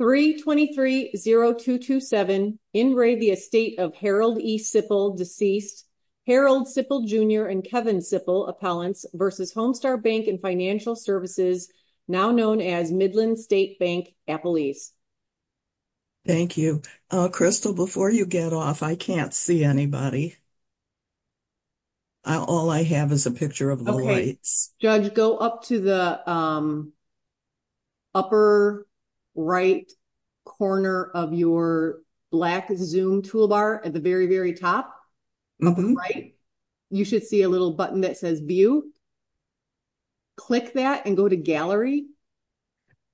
3230227 In re the estate of Harold E. Sippel, deceased. Harold Sippel Jr. and Kevin Sippel, appellants v. Homestar Bank & Financial Services, now known as Midland State Bank, Appalachia. Thank you. Crystal, before you get off, I can't see anybody. All I have is a picture of the lights. Judge, go up to the upper right corner of your black Zoom toolbar at the very, very top. You should see a little button that says View. Click that and go to Gallery.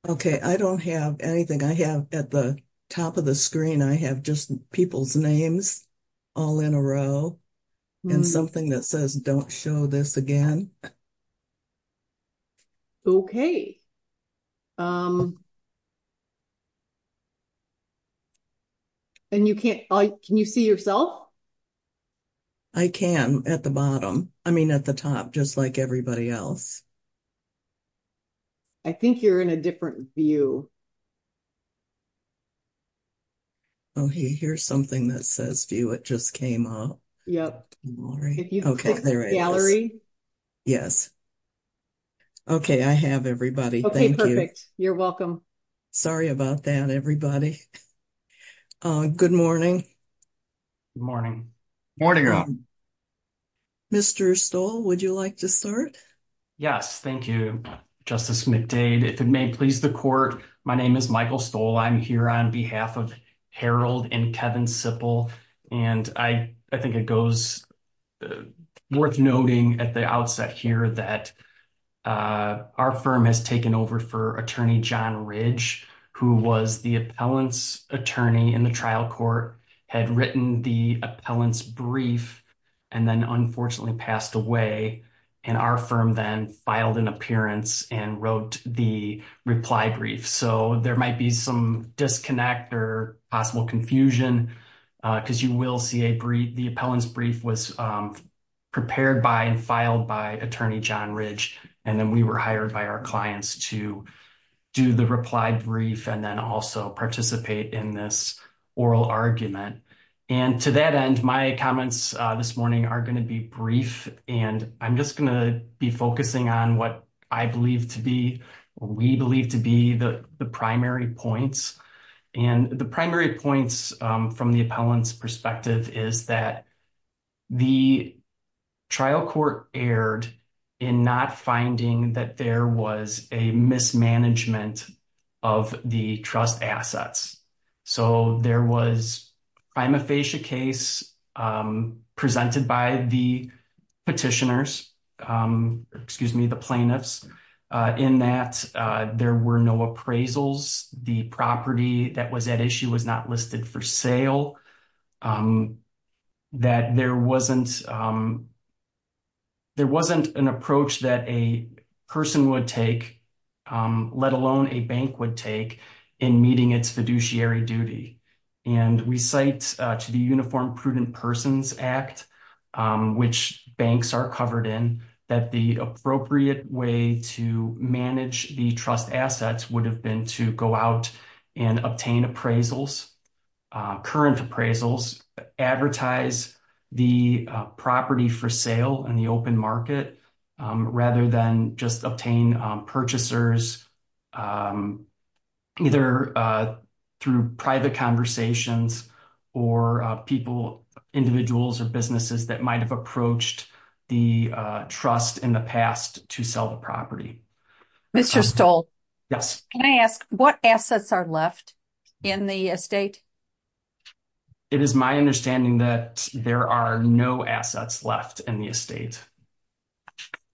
Okay, I don't have anything. I have at the top of the screen, I have just people's names all in a row and something that says, don't show this again. Okay. And you can't, can you see yourself? I can at the bottom. I mean, at the top, just like everybody else. I think you're in a different view. Oh, hey, here's something that says view. It just came up. Yep. Okay. Gallery. Yes. Okay. I have everybody. Okay. Perfect. You're welcome. Sorry about that. Everybody. Good morning. Good morning. Morning. Mr. Stoll, would you like to start? Yes. Thank you, Justice McDade. If it may please the court, my name is Michael Stoll. I'm here on behalf of Harold and Kevin Sipple. And I think it goes worth noting at the outset here that our firm has taken over for attorney John Ridge, who was the appellant's attorney in the trial court, had written the appellant's brief, and then unfortunately passed away. And our firm then filed an appearance and wrote the reply brief. So there might be some disconnect or possible confusion, because you will see a brief, the appellant's brief was prepared by and filed by attorney John Ridge. And then we were hired by our clients to do the reply brief and then also participate in this oral argument. And to that end, my comments this morning are going to be brief. And I'm just going to be focusing on what I believe we believe to be the primary points. And the primary points from the appellant's perspective is that the trial court erred in not finding that there was a mismanagement of the trust assets. So there was a case presented by the petitioners, excuse me, the plaintiffs, in that there were no appraisals, the property that was at issue was not listed for sale, that there wasn't there wasn't an approach that a person would take, let alone a bank would take in meeting its fiduciary duty. And we cite to the Uniform Prudent Persons Act, which banks are covered in, that the appropriate way to manage the trust assets would have been to go out and obtain appraisals, current appraisals, advertise the property for sale in the open market, rather than just obtain purchasers, either through private conversations, or people, individuals or businesses that might have approached the trust in the past to sell the property. Mr. Stoll? Yes. Can I ask what assets are left in the estate? It is my understanding that there are no assets left in the estate.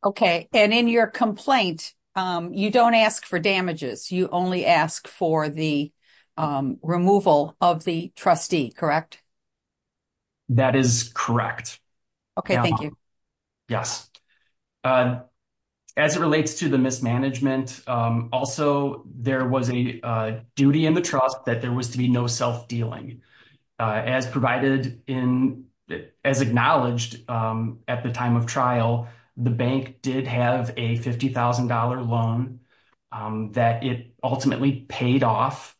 Okay, and in your complaint, you don't ask for damages, you only ask for the removal of the trustee, correct? That is correct. Okay, thank you. Yes. As it relates to the mismanagement, also, there was a duty in the trust that there was to be no self-dealing. As acknowledged at the time of trial, the bank did have a $50,000 loan that it ultimately paid off,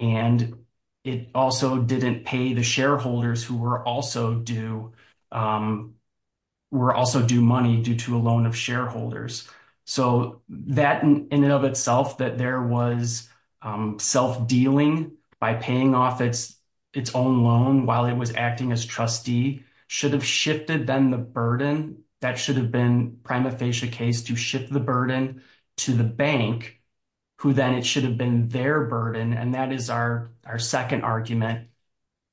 and it also didn't pay the shareholders who were also due money due to a loan of shareholders. So that, in and of itself, that there was self-dealing by paying off its own loan while it was acting as trustee, should have shifted then the burden, that should have been prima facie case to shift the burden to the bank, who then it should have been their burden, and that is our second argument.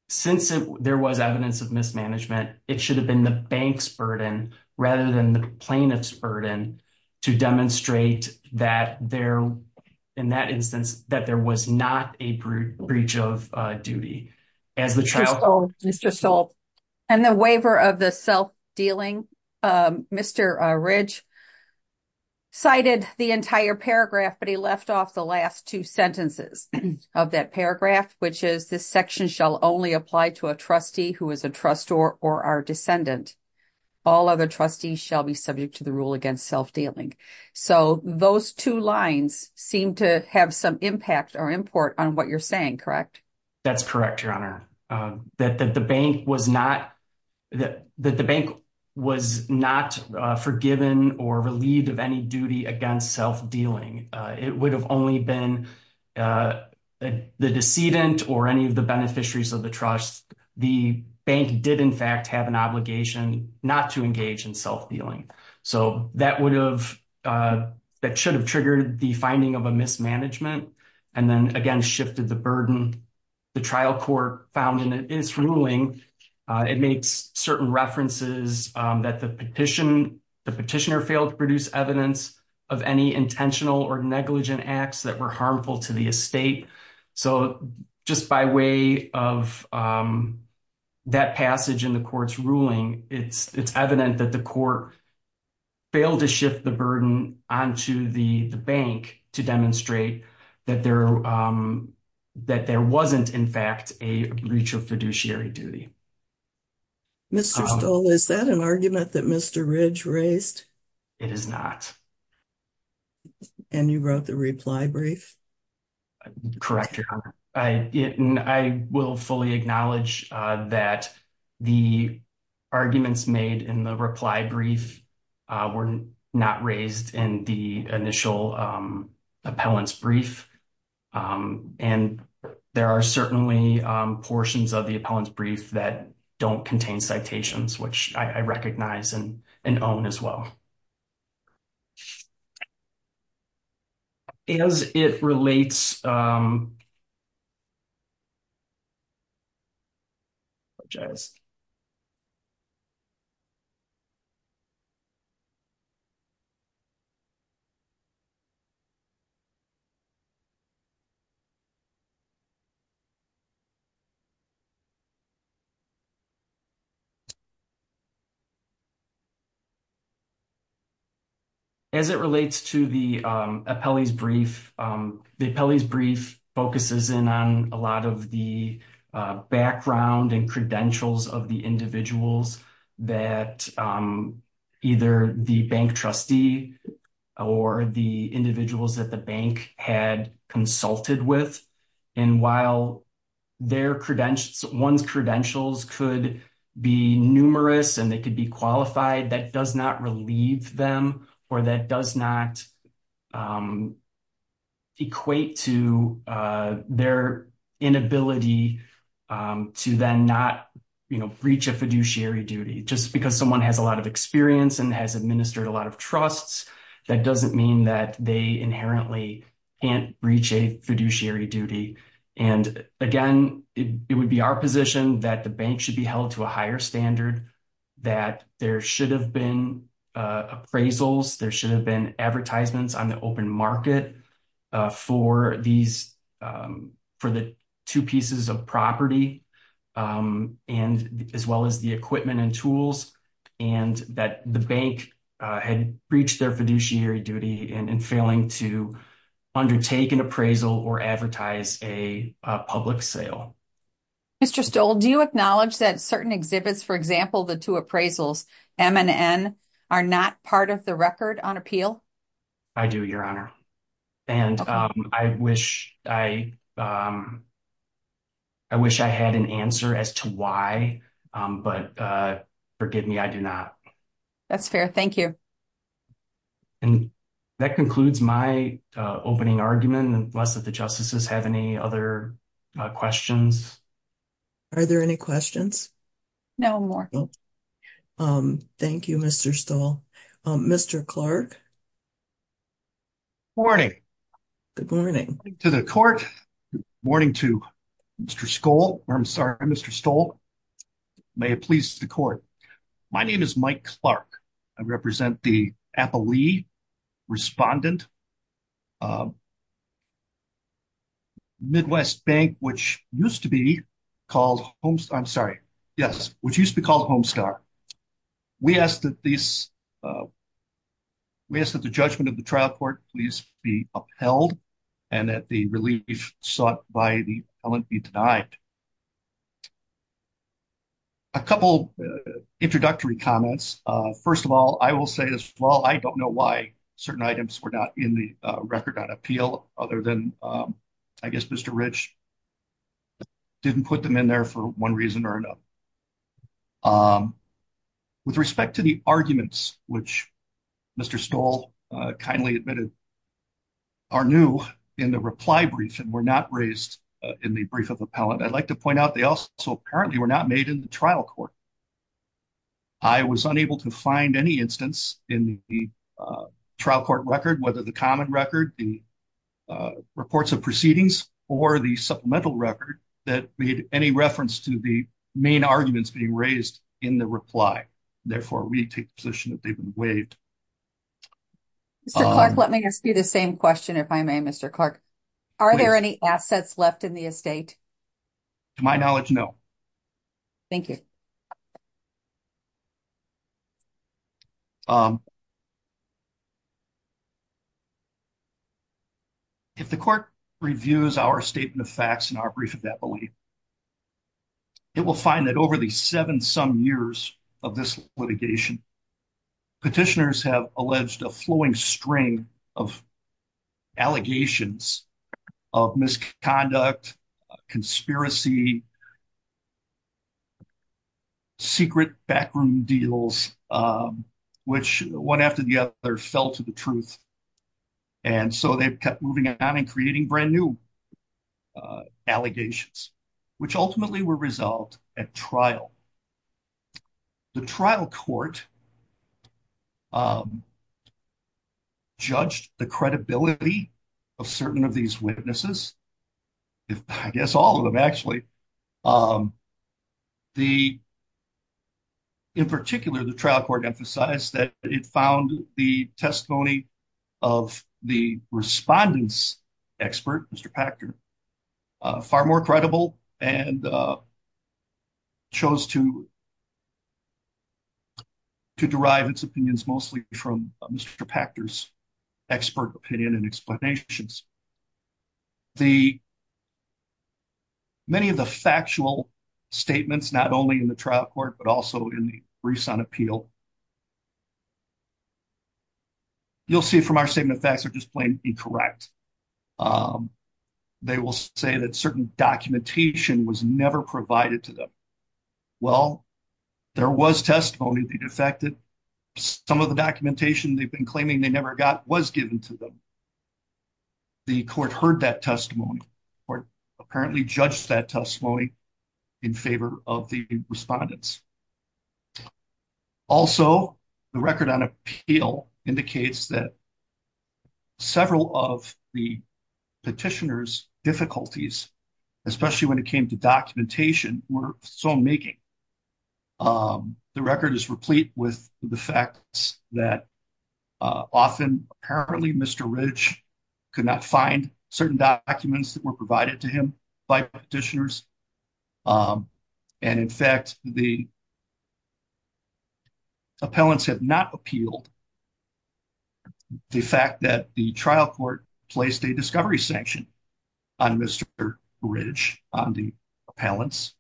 Since there was evidence of mismanagement, it should have been the bank's burden, rather than the plaintiff's burden, to demonstrate that there, in that instance, that there was not a breach of duty. As the trial... Mr. Stoll. Mr. Stoll. And the waiver of the self-dealing, Mr. Ridge cited the entire paragraph, but he left off the last two sentences of that paragraph, which is, this section shall only apply to a trustee who is a trustor or our descendant. All other trustees shall be subject to the rule against self-dealing. So those two lines seem to have some impact or import on what you're saying, correct? That's correct, Your Honor. That the bank was not forgiven or relieved of any duty against self-dealing. It would have only been the decedent or any of the beneficiaries of the trust, the bank did in fact have an obligation not to engage in self-dealing. So that would have, that should have triggered the finding of a mismanagement, and then again shifted the burden. The trial court found in its ruling, it makes certain references that the petitioner failed to produce evidence of any intentional or negligent acts that were harmful to the estate. So just by way of that passage in the court's ruling, it's evident that the court failed to shift the burden onto the bank to demonstrate that there wasn't in fact a breach of fiduciary duty. Mr. Stoll, is that an argument that Mr. Ridge raised? It is not. And you wrote the reply brief? Correct, Your Honor. I will fully acknowledge that the arguments made in the reply brief were not raised in the initial appellant's brief. And there are certainly portions of the appellant's brief that don't contain citations, which I recognize and own as well. Okay. As it relates, to the appellant's brief, the appellant's brief focuses in on a lot of the background and credentials of the individuals that either the bank trustee or the individuals that the bank had consulted with. And while one's credentials could be numerous and they could be qualified, that does not relieve them or that does not equate to their inability to then not breach a fiduciary duty. Just because someone has a lot of experience and has administered a lot of trusts, that doesn't mean that they inherently can't breach a fiduciary duty. And again, it would be our position that the bank should be held to a higher standard, that there should have been appraisals, there should have been advertisements on the open market for the two pieces of property, as well as the equipment and tools, and that the bank had breached their fiduciary duty in failing to undertake an appraisal or advertise a public sale. Mr. Stoll, do you acknowledge that certain exhibits, for example, the two appraisals, M and N, are not part of the record on appeal? I do, Your Honor. And I wish I had an answer as to why, but forgive me, I do not. That's fair. Thank you. And that concludes my opening argument. Unless the Justices have any other questions? Are there any questions? No, Your Honor. Thank you, Mr. Stoll. Mr. Clark? Good morning. Good morning. Good morning to the Court. Good morning to Mr. Stoll. May it please the Court. My name is Mike Clark. I represent the Appalee Respondent Midwest Bank, which used to be called Homestar. I'm sorry. Yes, which used to be called Homestar. We ask that the judgment of the trial court please be upheld and that the relief sought by the appellant be denied. A couple introductory comments. First of all, I will say as well, I don't know why certain items were not in the record on appeal other than, I guess, Mr. Rich didn't put them in there for one reason or another. With respect to the arguments, which Mr. Stoll kindly admitted are new in the reply brief and not raised in the brief of the appellant, I'd like to point out they also apparently were not made in the trial court. I was unable to find any instance in the trial court record, whether the common record, the reports of proceedings, or the supplemental record that made any reference to the main arguments being raised in the reply. Therefore, we take the position that they've been waived. Mr. Clark, let me ask you the same question if I may, Mr. Clark. Are there any assets left in the estate? To my knowledge, no. Thank you. If the court reviews our statement of facts and our brief of that belief, it will find that over the seven-some years of this litigation, petitioners have alleged a flowing string of allegations of misconduct, conspiracy, secret backroom deals, which one after the other fell to the truth. So they've kept moving on and creating brand new allegations, which ultimately were resolved at trial. The trial court judged the credibility of certain of these witnesses, I guess all of them, actually. In particular, the trial court emphasized that it found the testimony of the respondents expert, Mr. Pachter, far more credible and chose to derive its opinions mostly from Mr. Pachter's expert opinion and explanations. Many of the factual statements, not only in the trial court but also in the briefs on appeal, you'll see from our statement of facts are just plain incorrect. They will say that certain documentation was never provided to them. Well, there was testimony they defected. Some of the documentation they've been claiming they never got was given to them. The court heard that testimony or apparently judged that testimony in favor of the respondents. Also, the record on appeal indicates that several of the petitioners' difficulties, especially when it came to documentation, were so making. The record is replete with the facts that often apparently Mr. Ridge could not find certain documents that were provided to him by petitioners. In fact, the appellants have not appealed the fact that the trial court placed a discovery sanction on Mr. Ridge, on the appellants.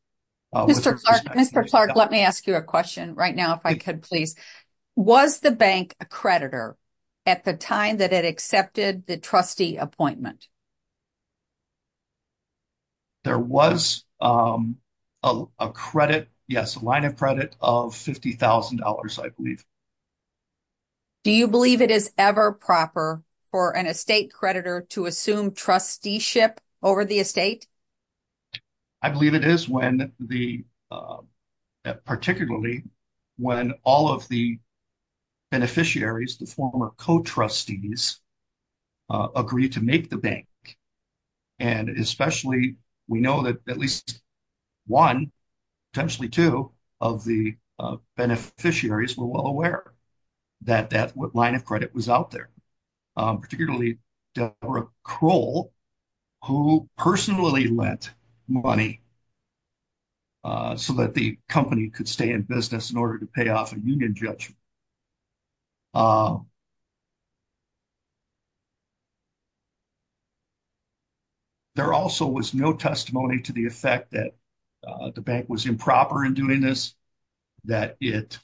Mr. Clark, let me ask you a question right now, if I could, please. Was the bank a creditor at the time that it accepted the trustee appointment? There was a credit, yes, a line of credit of $50,000, I believe. Do you believe it is ever proper for an estate creditor to assume trusteeship over the estate? I believe it is when the, particularly when all of the beneficiaries, the former co-trustees agree to make the bank. And especially, we know that at least one, potentially two, of the beneficiaries were well aware that that line of credit was out there, particularly Deborah Kroll, who personally lent money so that the company could stay in business in order to pay off a judgment. There also was no testimony to the effect that the bank was improper in doing this, that it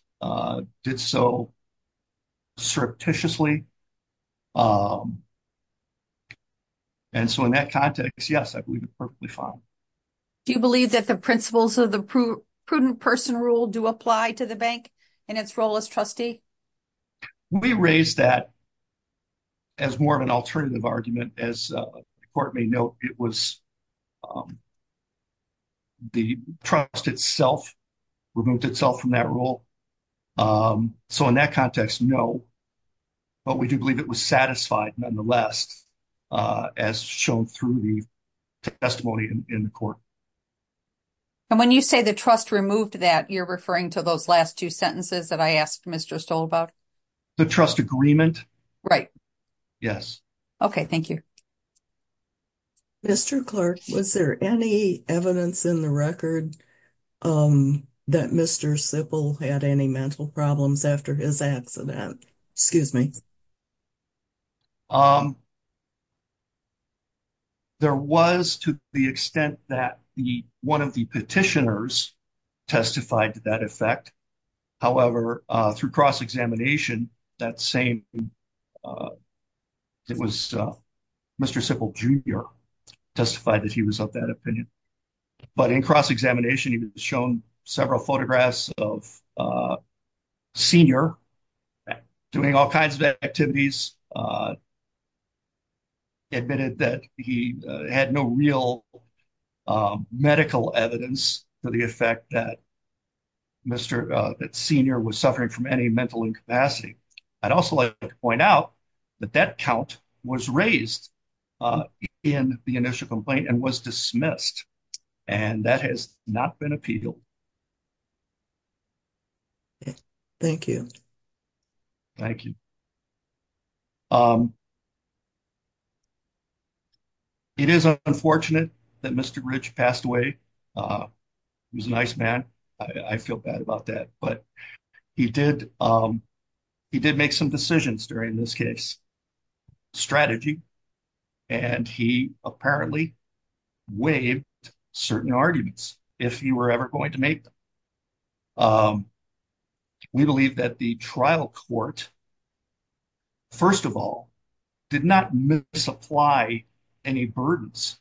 did so surreptitiously. And so in that context, yes, I believe it's perfectly fine. Do you believe that the principles of the prudent person rule do apply to the bank in its role as trustee? We raised that as more of an alternative argument. As the court may note, it was the trust itself removed itself from that role. So in that context, no, but we do believe it was satisfied nonetheless, as shown through the testimony in the court. And when you say the trust removed that, you're referring to those last two sentences that I asked Mr. Stoll about? The trust agreement. Right. Yes. Okay, thank you. Mr. Clark, was there any evidence in the record that Mr. Sipple had any mental problems after his accident? Excuse me. There was to the extent that the one of the petitioners testified to that effect. However, through cross-examination, that same, it was Mr. Sipple Jr. testified that he was of that opinion. But in cross-examination, he was shown several photographs of a senior doing all kinds of activities. He admitted that he had no real medical evidence for the effect that Mr., that senior was suffering from any mental incapacity. I'd also like to point out that that count was raised in the initial complaint and was dismissed. And that has not been appealed. Okay. Thank you. Thank you. It is unfortunate that Mr. Rich passed away. He was a nice man. I feel bad about that. But he did, he did make some decisions during this case, strategy. And he apparently waived certain arguments, if he were ever going to make them. We believe that the trial court, first of all, did not misapply any burdens.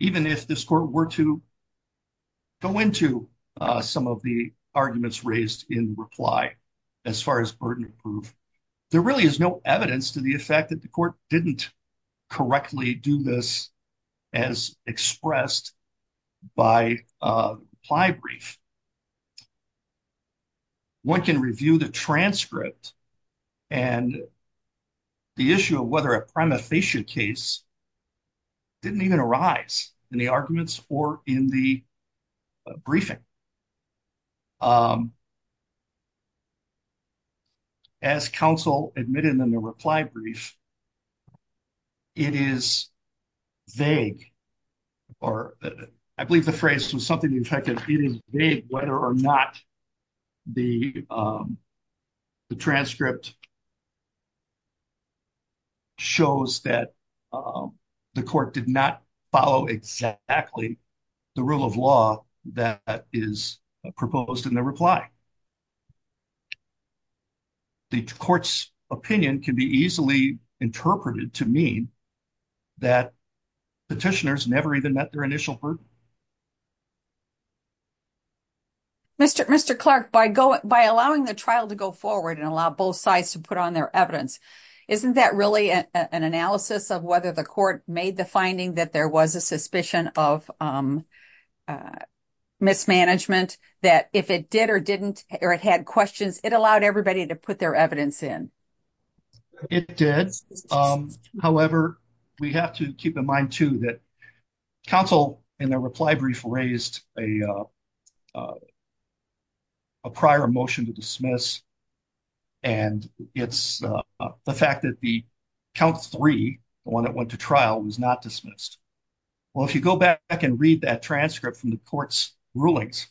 Even if this court were to go into some of the arguments raised in reply, as far as burden proof, there really is no evidence to the effect that the court didn't correctly do this as expressed by a reply brief. One can review the transcript and the issue of whether a primathesia case didn't even arise in the arguments or in the briefing. As counsel admitted in the reply brief, it is vague, or I believe the phrase was something effective. It is vague whether or not the transcript shows that the court did not follow exactly the rule of law that is proposed in the reply. The court's opinion can be easily interpreted to mean that petitioners never even met their initial burden. Mr. Clark, by allowing the trial to go forward and allow both sides to put on their evidence, isn't that really an analysis of whether the court made the finding that there was a suspicion of mismanagement? That if it did or didn't, or it had questions, it allowed everybody to put their evidence in? It did. However, we have to keep in mind, too, that counsel in the reply brief raised a prior motion to dismiss, and it's the fact that the count three, the one that went to trial, was not dismissed. Well, if you go back and read that transcript from the court's rulings,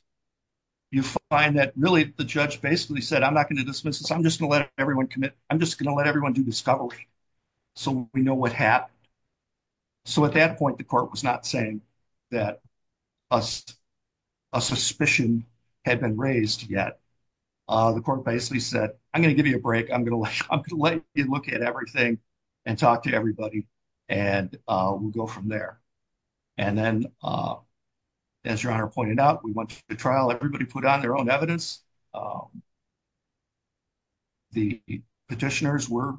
you find that really the judge basically said, I'm not going to dismiss this. I'm just going to let everyone commit. I'm just going to let everyone do discovery so we know what happened. So at that point, the court was not saying that a suspicion had been raised yet. The court basically said, I'm going to give you a break. I'm going to let you look at everything and talk to everybody, and we'll go from there. And then, as your honor pointed out, we went to trial. Everybody put on their own evidence. The petitioners were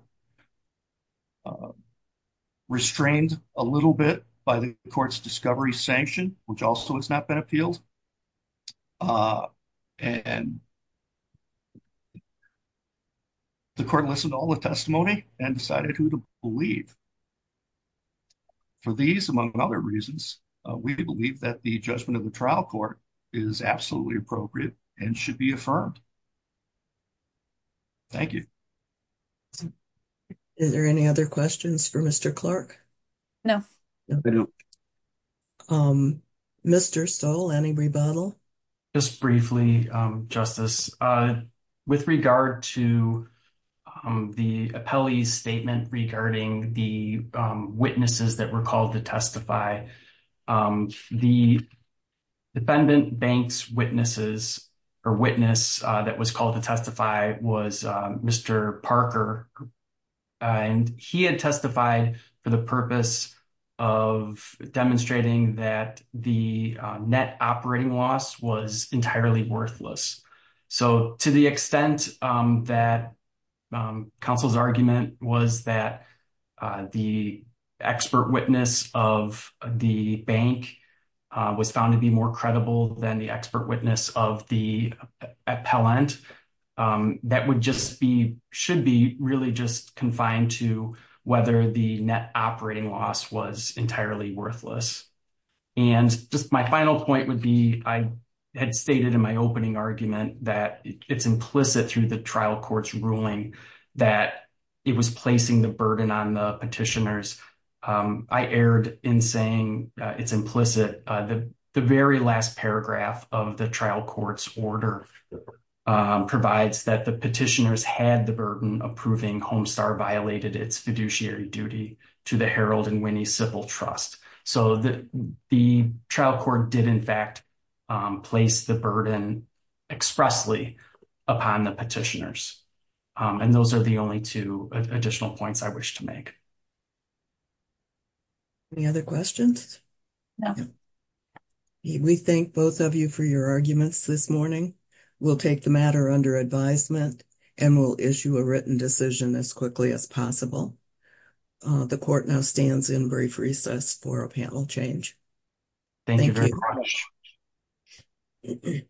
restrained a little bit by the court's discovery sanction, which also has not been appealed. And the court listened to all the testimony and decided who to believe. For these, among other reasons, we believe that the judgment of the trial court is absolutely appropriate and should be affirmed. Thank you. Is there any other questions for Mr. Clark? No. Mr. Stoll, any rebuttal? Just briefly, Justice. With regard to the appellee's statement regarding the witnesses that were called to testify, the defendant bank's witnesses or witness that was called to testify was Mr. Parker. He had testified for the purpose of demonstrating that the net operating loss was entirely worthless. So to the extent that counsel's argument was that the expert witness of the bank was found to be more credible than the expert witness of the appellant, that should be really just confined to whether the net operating loss was entirely worthless. And just my final point I had stated in my opening argument that it's implicit through the trial court's ruling that it was placing the burden on the petitioners. I erred in saying it's implicit. The very last paragraph of the trial court's order provides that the petitioners had the burden of proving Homestar violated its fiduciary duty to the Harold and Winnie Civil Trust. So the trial court did, in fact, place the burden expressly upon the petitioners. And those are the only two additional points I wish to make. Any other questions? No. We thank both of you for your arguments this morning. We'll take the matter under advisement and we'll issue a written decision as quickly as possible. The court now stands in brief recess for a panel change. Thank you very much.